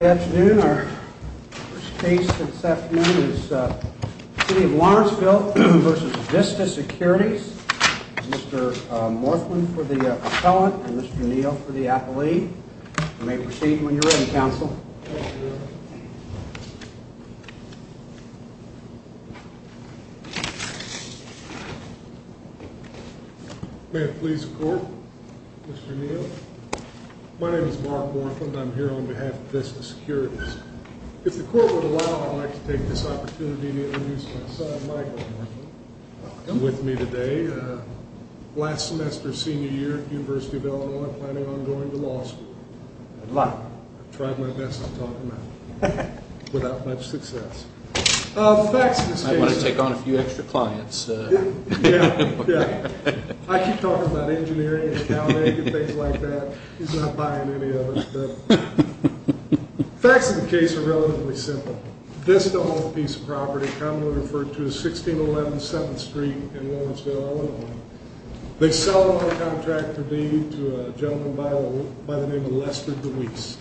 Good afternoon. Our first case this afternoon is City of Lawrenceville v. Vista Securities. Mr. Morthland for the appellant and Mr. Neal for the appellee. You may proceed when you're ready, counsel. Thank you, Your Honor. May it please the court, Mr. Neal. My name is Mark Morthland. I'm here on behalf of Vista Securities. If the court would allow, I'd like to take this opportunity to introduce my son, Michael Morthland, with me today. Last semester's senior year at the University of Illinois, I'm planning on going to law school. I've tried my best to talk him out of it without much success. I might want to take on a few extra clients. I keep talking about engineering and accounting and things like that. He's not buying any of it. Facts of the case are relatively simple. Vista owned a piece of property commonly referred to as 1611 7th Street in Lawrenceville, Illinois. They sell a contract to a gentleman by the name of Lester DeWeese.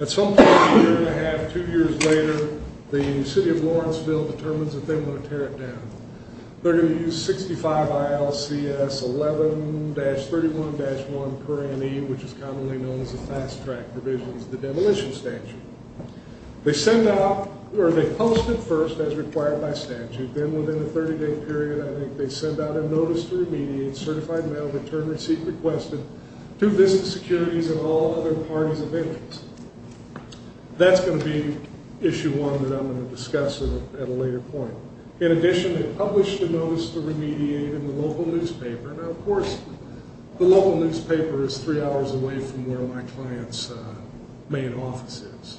At some point a year and a half, two years later, the City of Lawrenceville determines that they want to tear it down. They're going to use 65 ILCS 11-31-1 per annum, which is commonly known as the fast track provisions of the demolition statute. They send out, or they host it first as required by statute. Then within a 30-day period, I think they send out a notice to remediate, certified mail return receipt requested to Vista Securities and all other parties of interest. That's going to be issue one that I'm going to discuss at a later point. In addition, they publish the notice to remediate in the local newspaper. Of course, the local newspaper is three hours away from where my client's main office is.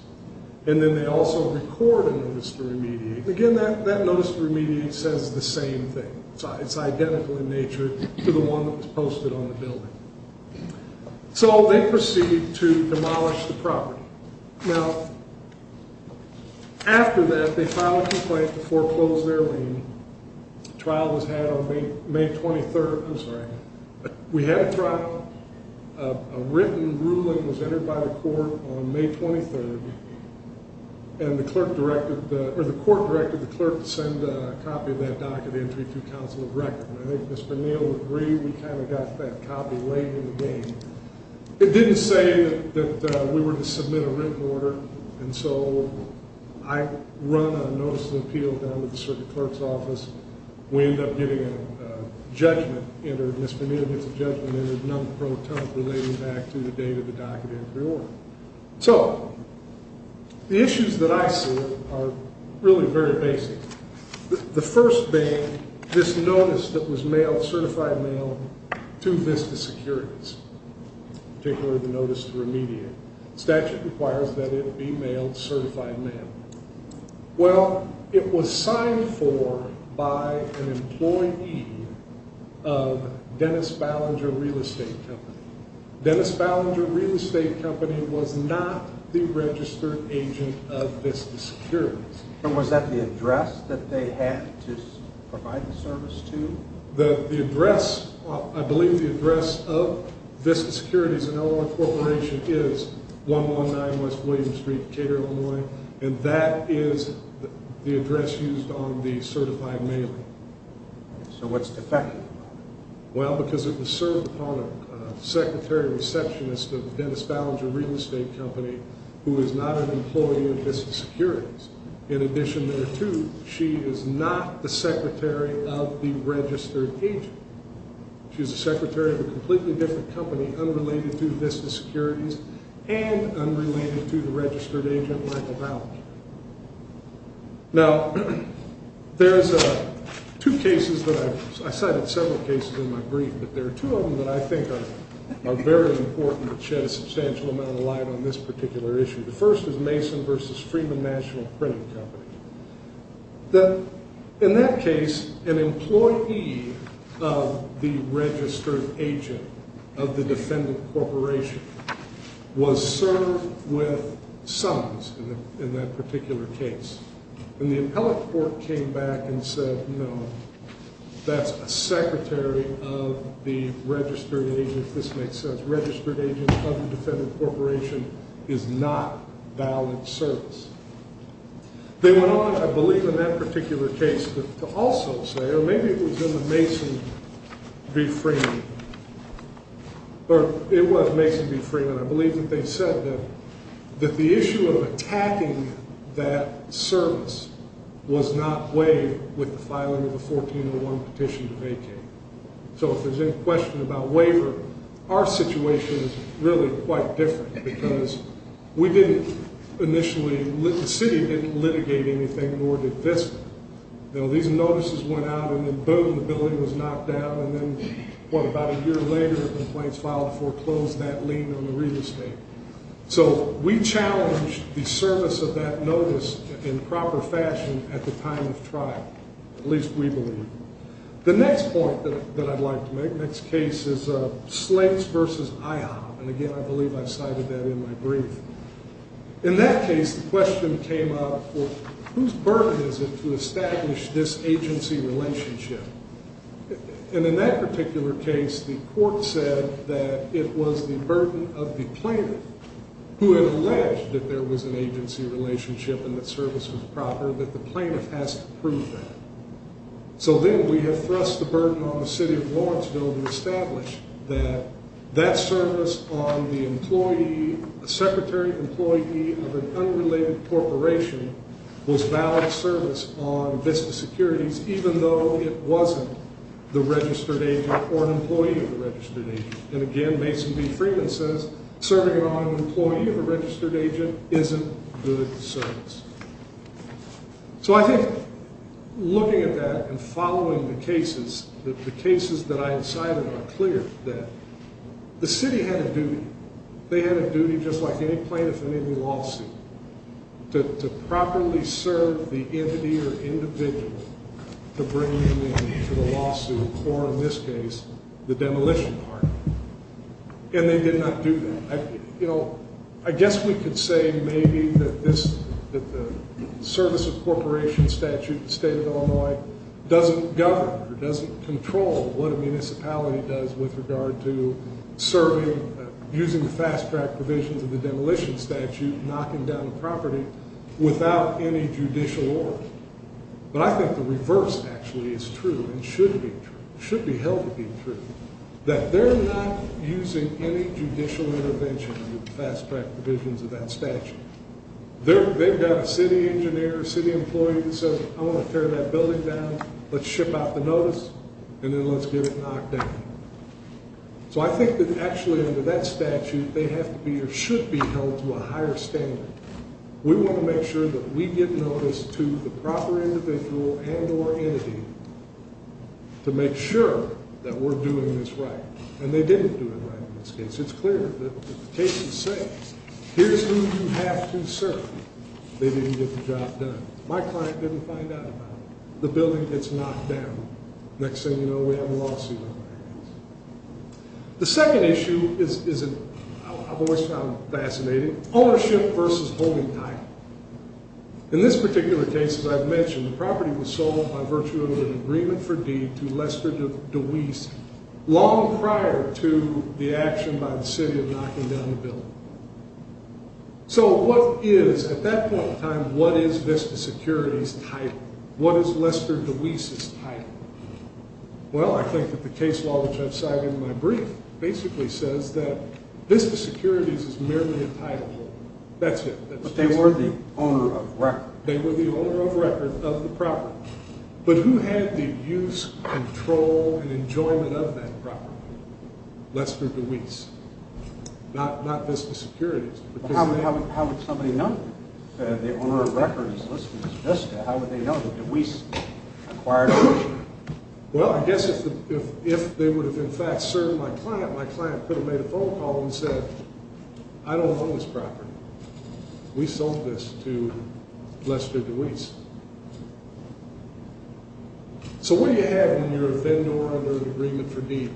Then they also record a notice to remediate. Again, that notice to remediate says the same thing. It's identical in nature to the one that was posted on the building. They proceed to demolish the property. Now, after that, they file a complaint to foreclose their lien. The trial was had on May 23rd. We had a trial. A written ruling was entered by the court on May 23rd, and the court directed the clerk to send a copy of that docket entry to counsel of record. I think Mr. Neal would agree we kind of got that copy late in the game. It didn't say that we were to submit a written order, and so I run a notice of appeal down to the circuit clerk's office. We end up getting a judgment entered. Mr. Neal gets a judgment and there's none pro tonic relating back to the date of the docket entry order. So the issues that I see are really very basic. The first thing, this notice that was mailed, certified mail, to Vista Securities, particularly the notice to remediate, statute requires that it be mailed certified mail. Well, it was signed for by an employee of Dennis Ballinger Real Estate Company. Dennis Ballinger Real Estate Company was not the registered agent of Vista Securities. And was that the address that they had to provide the service to? The address, I believe the address of Vista Securities and Illinois Corporation is 119 West William Street, Cater, Illinois. And that is the address used on the certified mailing. So what's defective? Well, because it was served upon a secretary receptionist of Dennis Ballinger Real Estate Company who is not an employee of Vista Securities. In addition, there too, she is not the secretary of the registered agent. She's the secretary of a completely different company unrelated to Vista Securities and unrelated to the registered agent, Michael Ballinger. Now, there's two cases that I cited, several cases in my brief. But there are two of them that I think are very important that shed a substantial amount of light on this particular issue. The first is Mason v. Freeman National Printing Company. In that case, an employee of the registered agent of the defendant corporation was served with sums in that particular case. And the appellate court came back and said, no, that's a secretary of the registered agent. This makes sense. Registered agent of the defendant corporation is not valid service. They went on, I believe, in that particular case to also say, or maybe it was in the Mason v. Freeman, or it was Mason v. Freeman. I believe that they said that the issue of attacking that service was not waived with the filing of a 1401 petition to vacate. So if there's any question about waiver, our situation is really quite different because we didn't initially, the city didn't litigate anything, nor did Vista. These notices went out, and then boom, the building was knocked down. And then, what, about a year later, the complaints filed foreclosed that lien on the real estate. So we challenged the service of that notice in proper fashion at the time of trial, at least we believe. The next point that I'd like to make, next case is Slates v. IHOP. And, again, I believe I cited that in my brief. In that case, the question came up, well, whose burden is it to establish this agency relationship? And in that particular case, the court said that it was the burden of the plaintiff who had alleged that there was an agency relationship and that service was proper, but the plaintiff has to prove that. So then we have thrust the burden on the city of Lawrenceville to establish that that service on the employee, a secretary employee of an unrelated corporation was valid service on Vista Securities, even though it wasn't the registered agent or an employee of the registered agent. And, again, Mason v. Freeman says serving it on an employee of a registered agent isn't good service. So I think looking at that and following the cases, the cases that I cited are clear that the city had a duty. They had a duty, just like any plaintiff in any lawsuit, to properly serve the entity or individual to bring them in to the lawsuit or, in this case, the demolition party. And they did not do that. I guess we could say maybe that the service of corporation statute in the state of Illinois doesn't govern or doesn't control what a municipality does with regard to serving, using the fast-track provisions of the demolition statute, knocking down a property without any judicial order. But I think the reverse, actually, is true and should be true, should be held to be true, that they're not using any judicial intervention under the fast-track provisions of that statute. They've got a city engineer, a city employee that says, I want to tear that building down, let's ship out the notice, and then let's get it knocked down. So I think that, actually, under that statute, they have to be or should be held to a higher standard. We want to make sure that we get notice to the proper individual and or entity to make sure that we're doing this right. And they didn't do it right in this case. It's clear that the case is safe. Here's who you have to serve. They didn't get the job done. My client didn't find out about it. The building gets knocked down. Next thing you know, we have a lawsuit in our hands. The second issue is, I've always found fascinating, ownership versus holding title. In this particular case, as I've mentioned, the property was sold by virtue of an agreement for deed to Lester DeWeese long prior to the action by the city of knocking down the building. So what is, at that point in time, what is VISTA Security's title? Well, I think that the case law, which I've cited in my brief, basically says that VISTA Security is merely a title. That's it. But they were the owner of record. They were the owner of record of the property. But who had the use, control, and enjoyment of that property? Lester DeWeese. Not VISTA Security. How would somebody know? The owner of record is Lester DeWeese. How would they know? Well, I guess if they would have, in fact, served my client, my client could have made a phone call and said, I don't own this property. We sold this to Lester DeWeese. So what do you have when you're a vendor under an agreement for deed?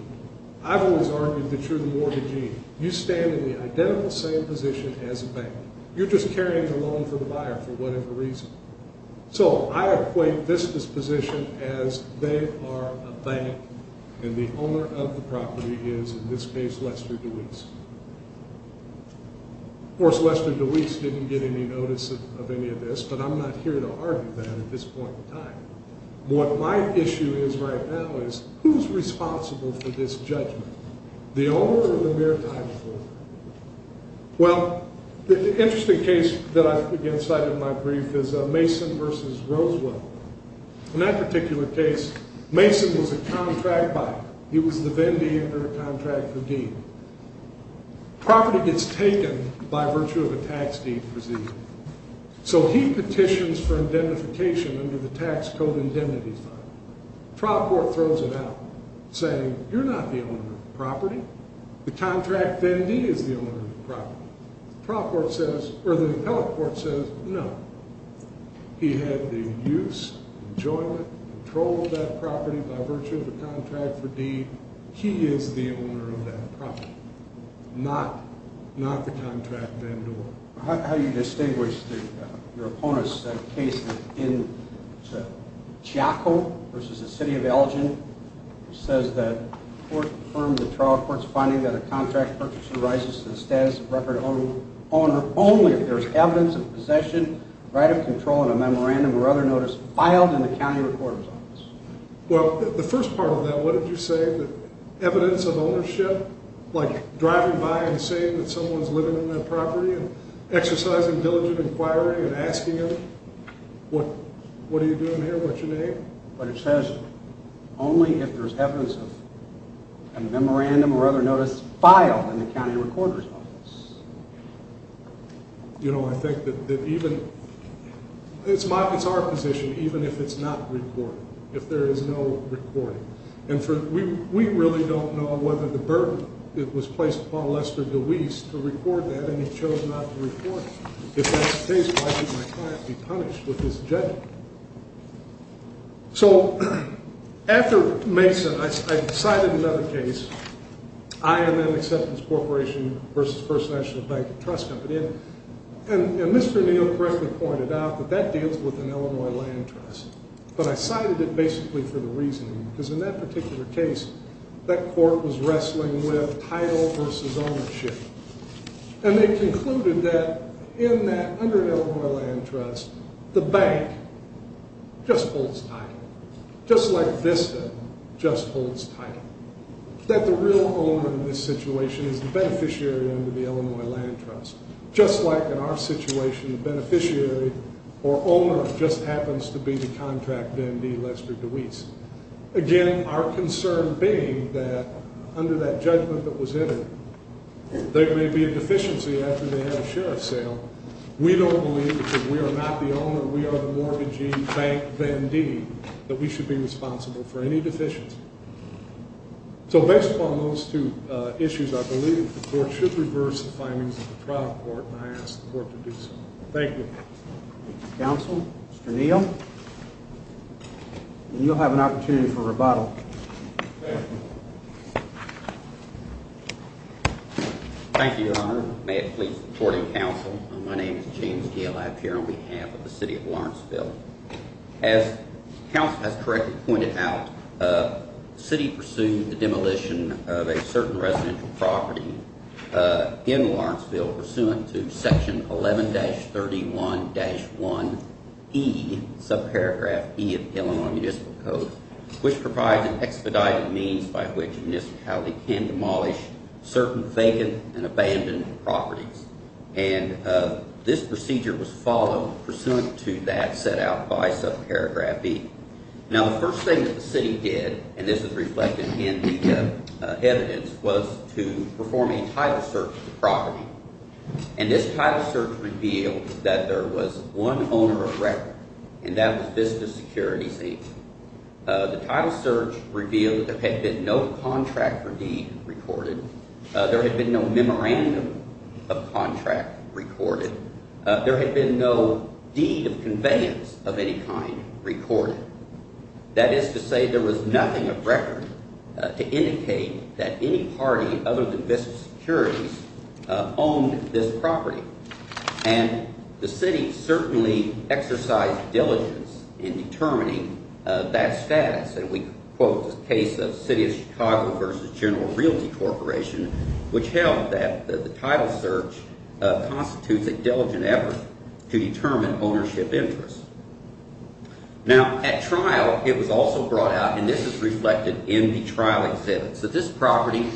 I've always argued that you're the mortgagee. You stand in the identical same position as a bank. You're just carrying the loan for the buyer for whatever reason. So I equate VISTA's position as they are a bank, and the owner of the property is, in this case, Lester DeWeese. Of course, Lester DeWeese didn't get any notice of any of this, but I'm not here to argue that at this point in time. What my issue is right now is who's responsible for this judgment? The owner or the mere title holder? Well, the interesting case that I, again, cited in my brief is Mason v. Rosewill. In that particular case, Mason was a contract buyer. He was the vendee under a contract for deed. Property gets taken by virtue of a tax deed procedure. So he petitions for identification under the tax code indemnity file. Trial court throws it out, saying, you're not the owner of the property. The contract vendee is the owner of the property. Trial court says, or the appellate court says, no. He had the use, enjoyment, control of that property by virtue of a contract for deed. He is the owner of that property, not the contract vendor. How do you distinguish your opponent's case in Giaco v. the City of Elgin? It says that court affirmed the trial court's finding that a contract purchaser rises to the status of record owner only if there is evidence of possession, right of control, and a memorandum or other notice filed in the county recorder's office. Well, the first part of that, what did you say? Evidence of ownership, like driving by and saying that someone's living in that property and exercising diligent inquiry and asking them, what are you doing here, what's your name? But it says only if there's evidence of a memorandum or other notice filed in the county recorder's office. You know, I think that even, it's our position, even if it's not recorded, if there is no recording. And we really don't know whether the burden that was placed upon Lester DeWeese to record that and he chose not to record it. If that's the case, why should my client be punished with his judgment? So after Mesa, I cited another case, IMN Acceptance Corporation v. First National Bank Trust Company. And Mr. Neal correctly pointed out that that deals with an Illinois land trust. But I cited it basically for the reasoning, because in that particular case, that court was wrestling with title versus ownership. And they concluded that in that, under Illinois land trust, the bank just holds title. Just like Vista just holds title. That the real owner in this situation is the beneficiary under the Illinois land trust. Just like in our situation, the beneficiary or owner just happens to be the contract Vendee Lester DeWeese. Again, our concern being that under that judgment that was entered, there may be a deficiency after they have a share of sale. We don't believe, because we are not the owner, we are the mortgagee bank Vendee, that we should be responsible for any deficiency. So based upon those two issues, I believe the court should reverse the findings of the trial court, and I ask the court to do so. Thank you. Counsel, Mr. Neal. You'll have an opportunity for rebuttal. Thank you, Your Honor. May it please the court and counsel. My name is James Gale. I appear on behalf of the city of Lawrenceville. As counsel has correctly pointed out, the city pursued the demolition of a certain residential property in Lawrenceville, pursuant to section 11-31-1E, subparagraph E of the Illinois Municipal Code, which provides an expedited means by which a municipality can demolish certain vacant and abandoned properties. And this procedure was followed pursuant to that set out by subparagraph E. Now the first thing that the city did, and this is reflected in the evidence, was to perform a title search of the property. And this title search revealed that there was one owner of record, and that was Vista Securities Inc. The title search revealed that there had been no contractor deed recorded. There had been no memorandum of contract recorded. There had been no deed of conveyance of any kind recorded. That is to say, there was nothing of record to indicate that any party other than Vista Securities owned this property. And the city certainly exercised diligence in determining that status. And we quote the case of City of Chicago v. General Realty Corporation, which held that the title search constitutes a diligent effort to determine ownership interests. Now at trial, it was also brought out, and this is reflected in the trial exhibits, that this property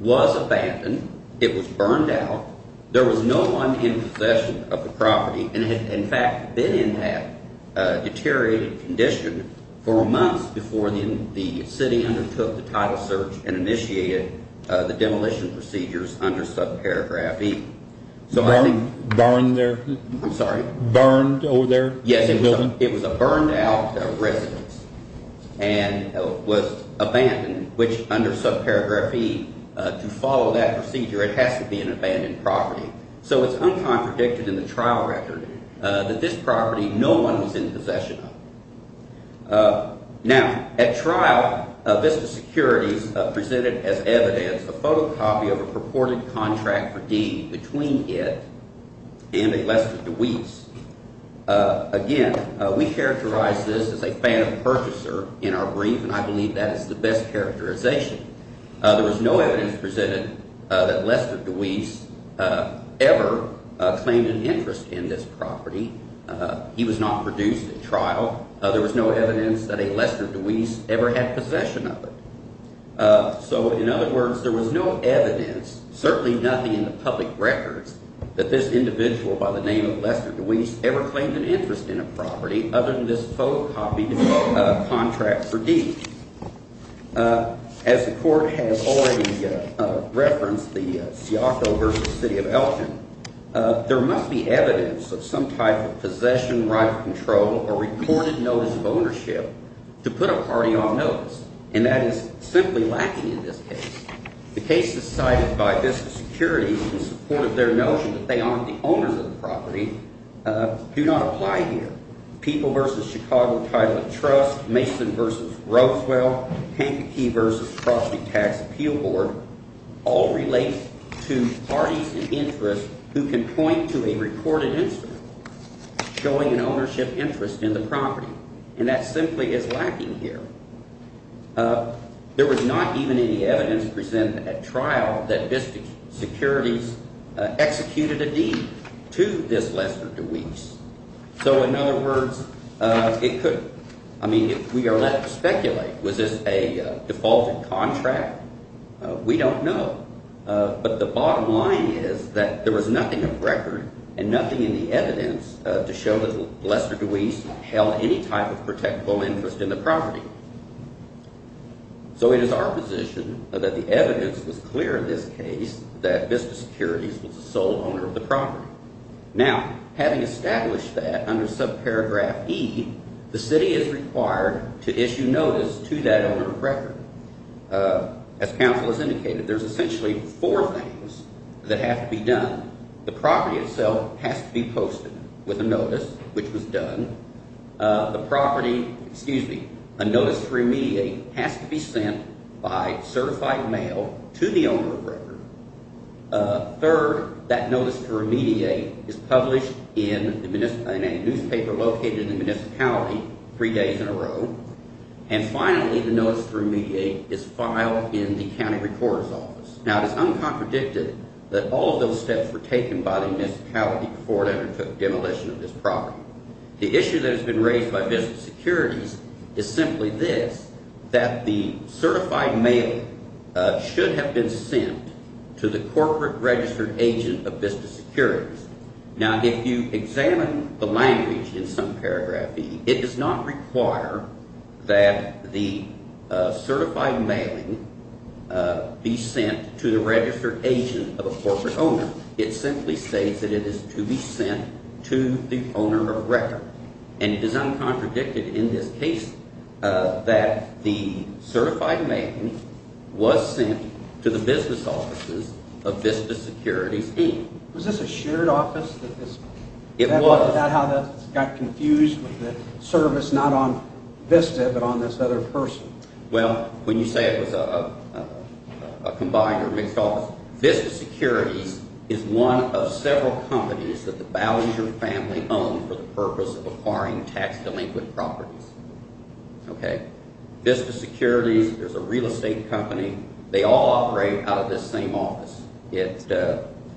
was abandoned. It was burned out. There was no one in possession of the property, and it had in fact been in that deteriorated condition for months before the city undertook the title search and initiated the demolition procedures under subparagraph E. Burned over there? Yes, it was a burned out residence and was abandoned, which under subparagraph E, to follow that procedure, it has to be an abandoned property. So it's uncontradicted in the trial record that this property no one was in possession of. Now at trial, Vista Securities presented as evidence a photocopy of a purported contract for deed between it and a lesser deweese. Again, we characterize this as a fan of purchaser in our brief, and I believe that is the best characterization. There was no evidence presented that a lesser deweese ever claimed an interest in this property. He was not produced at trial. There was no evidence that a lesser deweese ever had possession of it. So in other words, there was no evidence, certainly nothing in the public records, that this individual by the name of lesser deweese ever claimed an interest in a property other than this photocopied contract for deed. As the court has already referenced, the Siaco v. City of Elton, there must be evidence of some type of possession, right of control, or recorded notice of ownership to put a party on notice, and that is simply lacking in this case. The cases cited by Vista Securities in support of their notion that they aren't the owners of the property do not apply here. People v. Chicago Title of Trust, Mason v. Roswell, Hancocky v. Property Tax Appeal Board, all relate to parties in interest who can point to a recorded incident showing an ownership interest in the property, and that simply is lacking here. There was not even any evidence presented at trial that Vista Securities executed a deed to this lesser deweese. So in other words, it could – I mean if we are left to speculate, was this a defaulted contract, we don't know. But the bottom line is that there was nothing of record and nothing in the evidence to show that lesser deweese held any type of protectable interest in the property. So it is our position that the evidence was clear in this case that Vista Securities was the sole owner of the property. Now, having established that under subparagraph E, the city is required to issue notice to that owner of record. As counsel has indicated, there's essentially four things that have to be done. The property itself has to be posted with a notice, which was done. The property – excuse me – a notice to remediate has to be sent by certified mail to the owner of record. Third, that notice to remediate is published in a newspaper located in the municipality three days in a row. And finally, the notice to remediate is filed in the county recorder's office. Now, it is uncontradicted that all of those steps were taken by the municipality before it undertook demolition of this property. The issue that has been raised by Vista Securities is simply this, that the certified mail should have been sent to the corporate registered agent of Vista Securities. Now, if you examine the language in subparagraph E, it does not require that the certified mailing be sent to the registered agent of a corporate owner. It simply states that it is to be sent to the owner of record. And it is uncontradicted in this case that the certified mailing was sent to the business offices of Vista Securities Inc. Was this a shared office? It was. Is that how that got confused with the service not on Vista but on this other person? Well, when you say it was a combined or mixed office, Vista Securities is one of several companies that the Ballinger family owned for the purpose of acquiring tax-delinquent properties. Vista Securities is a real estate company. They all operate out of this same office. It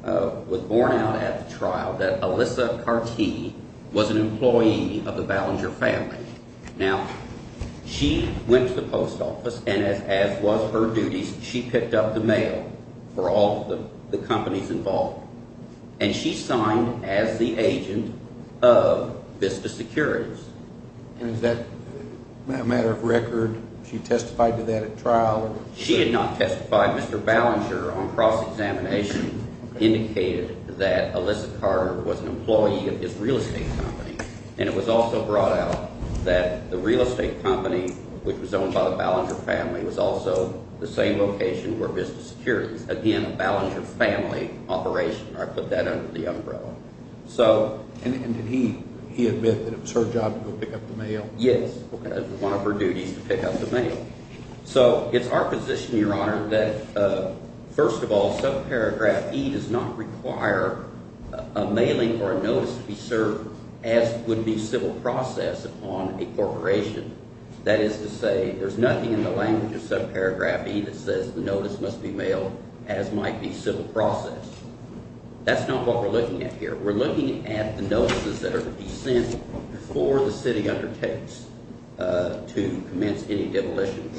was borne out at the trial that Alyssa Cartee was an employee of the Ballinger family. Now, she went to the post office, and as was her duties, she picked up the mail for all the companies involved. And she signed as the agent of Vista Securities. And is that a matter of record? She testified to that at trial? She did not testify. Mr. Ballinger, on cross-examination, indicated that Alyssa Carter was an employee of this real estate company. And it was also brought out that the real estate company, which was owned by the Ballinger family, was also the same location where Vista Securities. Again, a Ballinger family operation. I put that under the umbrella. And did he admit that it was her job to go pick up the mail? Yes. It was one of her duties to pick up the mail. So it's our position, Your Honor, that first of all, subparagraph E does not require a mailing or a notice to be served as would be civil process upon a corporation. That is to say there's nothing in the language of subparagraph E that says the notice must be mailed as might be civil process. That's not what we're looking at here. We're looking at the notices that are to be sent before the city undertakes to commence any devolution.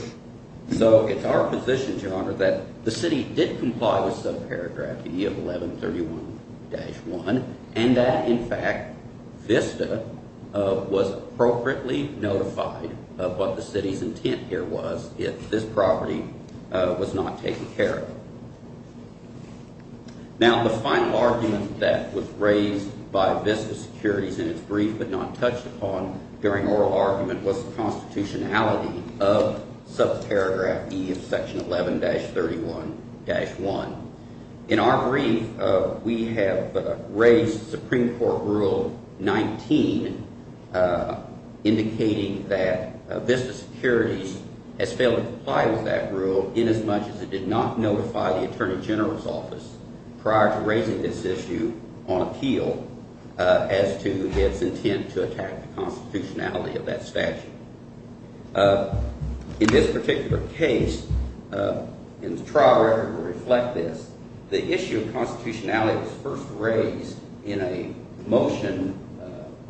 So it's our position, Your Honor, that the city did comply with subparagraph E of 1131-1 and that, in fact, Vista was appropriately notified of what the city's intent here was if this property was not taken care of. Now, the final argument that was raised by Vista Securities in its brief but not touched upon during oral argument was the constitutionality of subparagraph E of section 11-31-1. In our brief, we have raised Supreme Court Rule 19 indicating that Vista Securities has failed to comply with that rule inasmuch as it did not notify the Attorney General's office prior to raising this issue on appeal as to its intent to attack the constitutionality of that statute. In this particular case, and the trial record will reflect this, the issue of constitutionality was first raised in a motion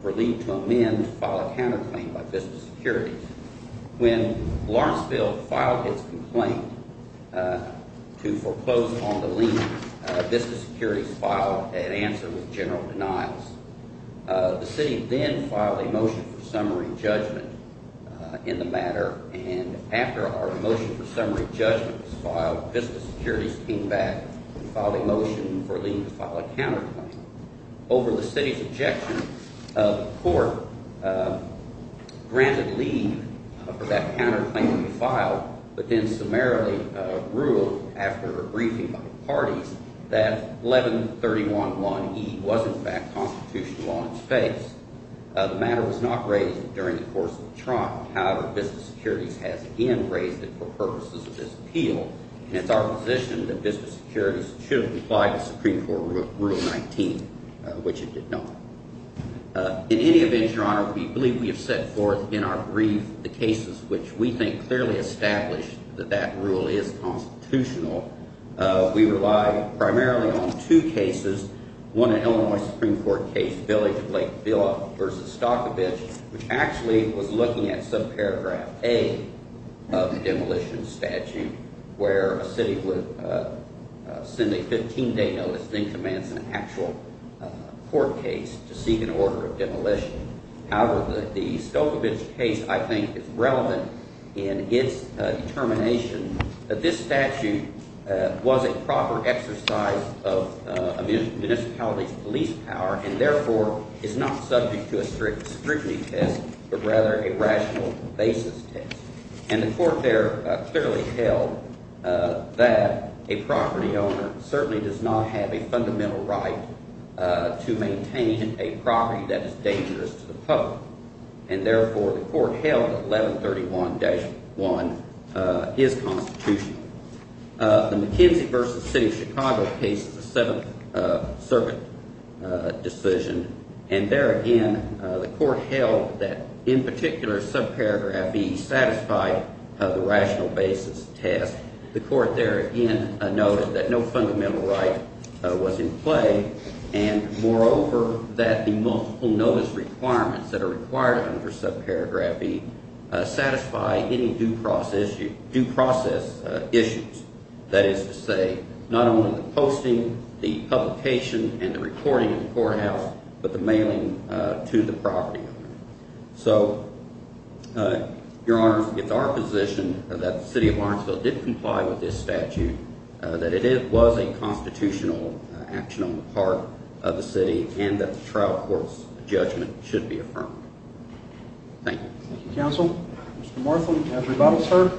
for lien to amend to file a counterclaim by Vista Securities. When Lawrenceville filed its complaint to foreclose on the lien, Vista Securities filed an answer with general denials. The city then filed a motion for summary judgment in the matter, and after our motion for summary judgment was filed, Vista Securities came back and filed a motion for lien to file a counterclaim. Over the city's objection, the court granted lien for that counterclaim to be filed but then summarily ruled after a briefing by the parties that 11-31-1E was in fact constitutional law in its face. The matter was not raised during the course of the trial. However, Vista Securities has again raised it for purposes of this appeal, and it's our position that Vista Securities should have complied with Supreme Court Rule 19, which it did not. In any event, Your Honor, we believe we have set forth in our brief the cases which we think clearly establish that that rule is constitutional. We rely primarily on two cases, one an Illinois Supreme Court case, Village of Lake Vila v. Stokovich, which actually was looking at subparagraph A of the demolition statute where a city would send a 15-day notice and then commence an actual court case to seek an order of demolition. However, the Stokovich case I think is relevant in its determination that this statute was a proper exercise of a municipality's police power and therefore is not subject to a strict scrutiny test but rather a rational basis test. And the court there clearly held that a property owner certainly does not have a fundamental right to maintain a property that is dangerous to the public, and therefore the court held that 11-31-1 is constitutional. The McKenzie v. City of Chicago case is a Seventh Circuit decision, and there again the court held that in particular subparagraph E satisfied the rational basis test. The court there again noted that no fundamental right was in play, and moreover that the multiple notice requirements that are required under subparagraph E satisfy any due process issues. That is to say, not only the posting, the publication, and the recording in the courthouse, but the mailing to the property owner. So, Your Honor, it's our position that the City of Lawrenceville did comply with this statute, that it was a constitutional action on the part of the city, and that the trial court's judgment should be affirmed. Thank you. Thank you, counsel. Mr. Martham, have rebuttals heard?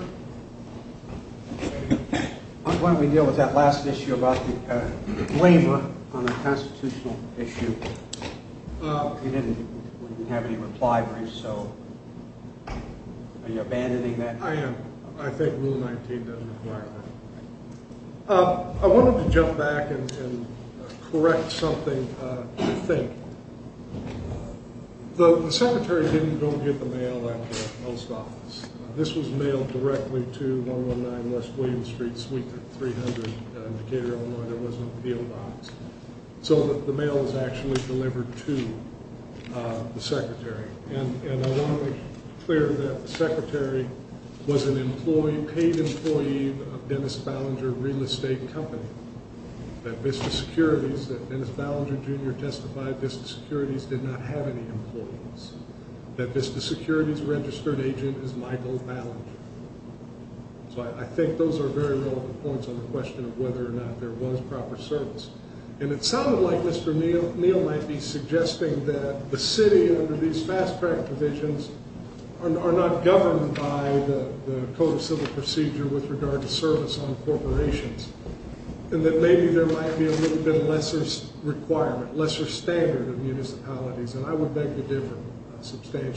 Why don't we deal with that last issue about the disclaimer on the constitutional issue? You didn't have any reply briefs, so are you abandoning that? I am. I think Rule 19 doesn't require that. I wanted to jump back and correct something you think. The secretary didn't go get the mail at the post office. This was mailed directly to 119 West William Street Suite 300 in Decatur, Illinois. So the mail was actually delivered to the secretary, and I want to be clear that the secretary was a paid employee of Dennis Ballinger Real Estate Company. That Dennis Ballinger Jr. testified that Vista Securities did not have any employees. That Vista Securities' registered agent is Michael Ballinger. So I think those are very relevant points on the question of whether or not there was proper service. And it sounded like Mr. Neal might be suggesting that the city under these fast track provisions are not governed by the Code of Civil Procedure with regard to service on corporations, and that maybe there might be a little bit lesser requirement, lesser standard of municipalities, and I would beg to differ. The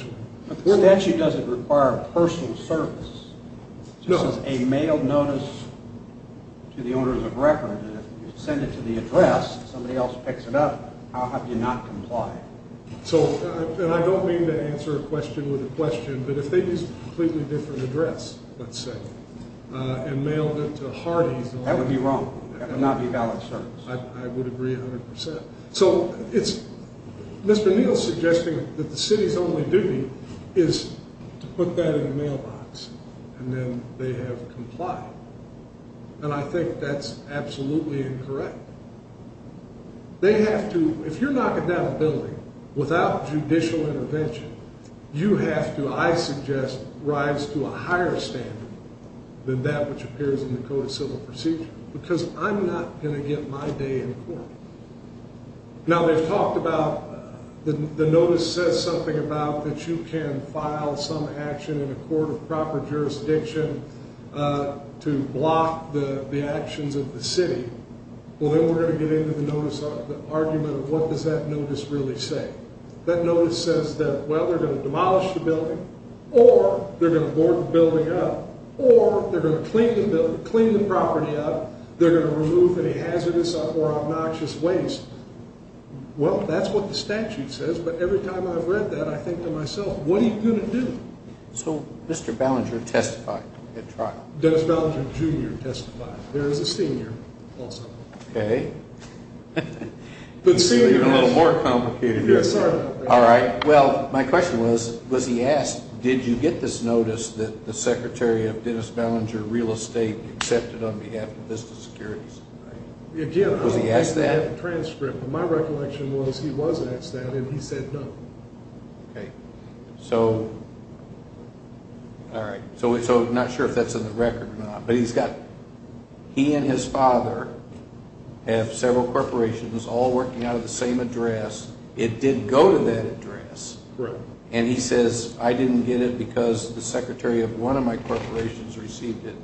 statute doesn't require personal service. This is a mailed notice to the owner of the record, and if you send it to the address and somebody else picks it up, how have you not complied? And I don't mean to answer a question with a question, but if they used a completely different address, let's say, and mailed it to Hardee's… That would be wrong. That would not be valid service. I would agree 100%. So it's… Mr. Neal's suggesting that the city's only duty is to put that in a mailbox, and then they have complied. And I think that's absolutely incorrect. They have to… If you're knocking down a building without judicial intervention, you have to, I suggest, rise to a higher standard than that which appears in the Code of Civil Procedure, because I'm not going to get my day in court. Now, they've talked about… The notice says something about that you can file some action in a court of proper jurisdiction to block the actions of the city. Well, then we're going to get into the notice, the argument of what does that notice really say. That notice says that, well, they're going to demolish the building, or they're going to board the building up, or they're going to clean the property up, they're going to remove any hazardous or obnoxious waste. Well, that's what the statute says, but every time I've read that, I think to myself, what are you going to do? So Mr. Ballinger testified at trial. Dennis Ballinger, Jr. testified. There is a senior also. Okay. It's even a little more complicated than that. Sorry about that. All right. Well, my question was, was he asked, did you get this notice that the Secretary of Dennis Ballinger Real Estate accepted on behalf of Vista Securities? Again, I don't have the transcript, but my recollection was he was asked that, and he said no. Okay. So all right. So I'm not sure if that's in the record or not, but he's got – he and his father have several corporations all working out of the same address. It did go to that address. Correct. And he says, I didn't get it because the Secretary of one of my corporations received it,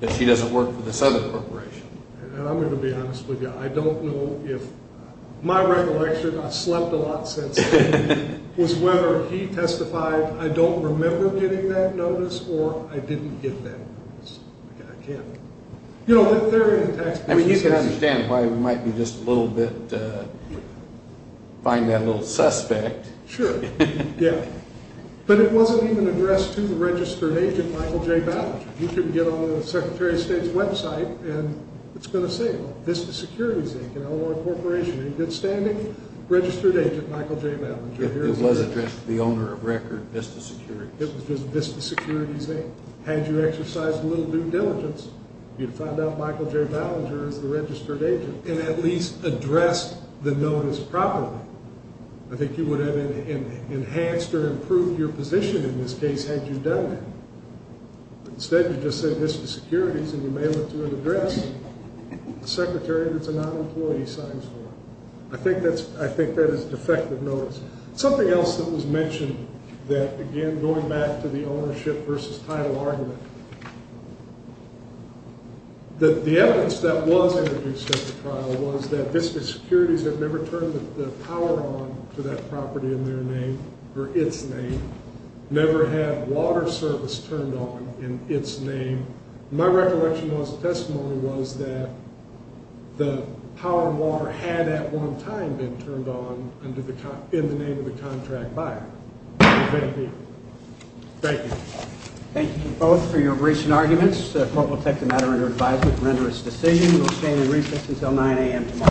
but she doesn't work for this other corporation. And I'm going to be honest with you. I don't know if – my recollection, I've slept a lot since then, was whether he testified, I don't remember getting that notice, or I didn't get that notice. I can't – you know, the theory in the text. I mean, you can understand why we might be just a little bit – find that a little suspect. Sure. Yeah. But it wasn't even addressed to the registered agent, Michael J. Ballinger. You can get on the Secretary of State's website, and it's going to say it. Vista Securities, Inc., an LLR corporation. He's a good-standing registered agent, Michael J. Ballinger. It was addressed to the owner of record, Vista Securities. It was just Vista Securities, Inc. Had you exercised a little due diligence, you'd find out Michael J. Ballinger is the registered agent, and at least addressed the notice properly. I think you would have enhanced or improved your position in this case had you done that. Instead, you just say Vista Securities, and you mail it to an address the secretary that's a non-employee signs for. I think that is a defective notice. Something else that was mentioned that, again, going back to the ownership versus title argument, the evidence that was introduced at the trial was that Vista Securities had never turned the power on to that property in their name, or its name, never had water service turned on in its name. My recollection as a testimony was that the power and water had at one time been turned on in the name of the contract buyer. Thank you. Thank you. Thank you both for your recent arguments. The court will take the matter under advisement to render its decision. We will stand in recess until 9 a.m. tomorrow.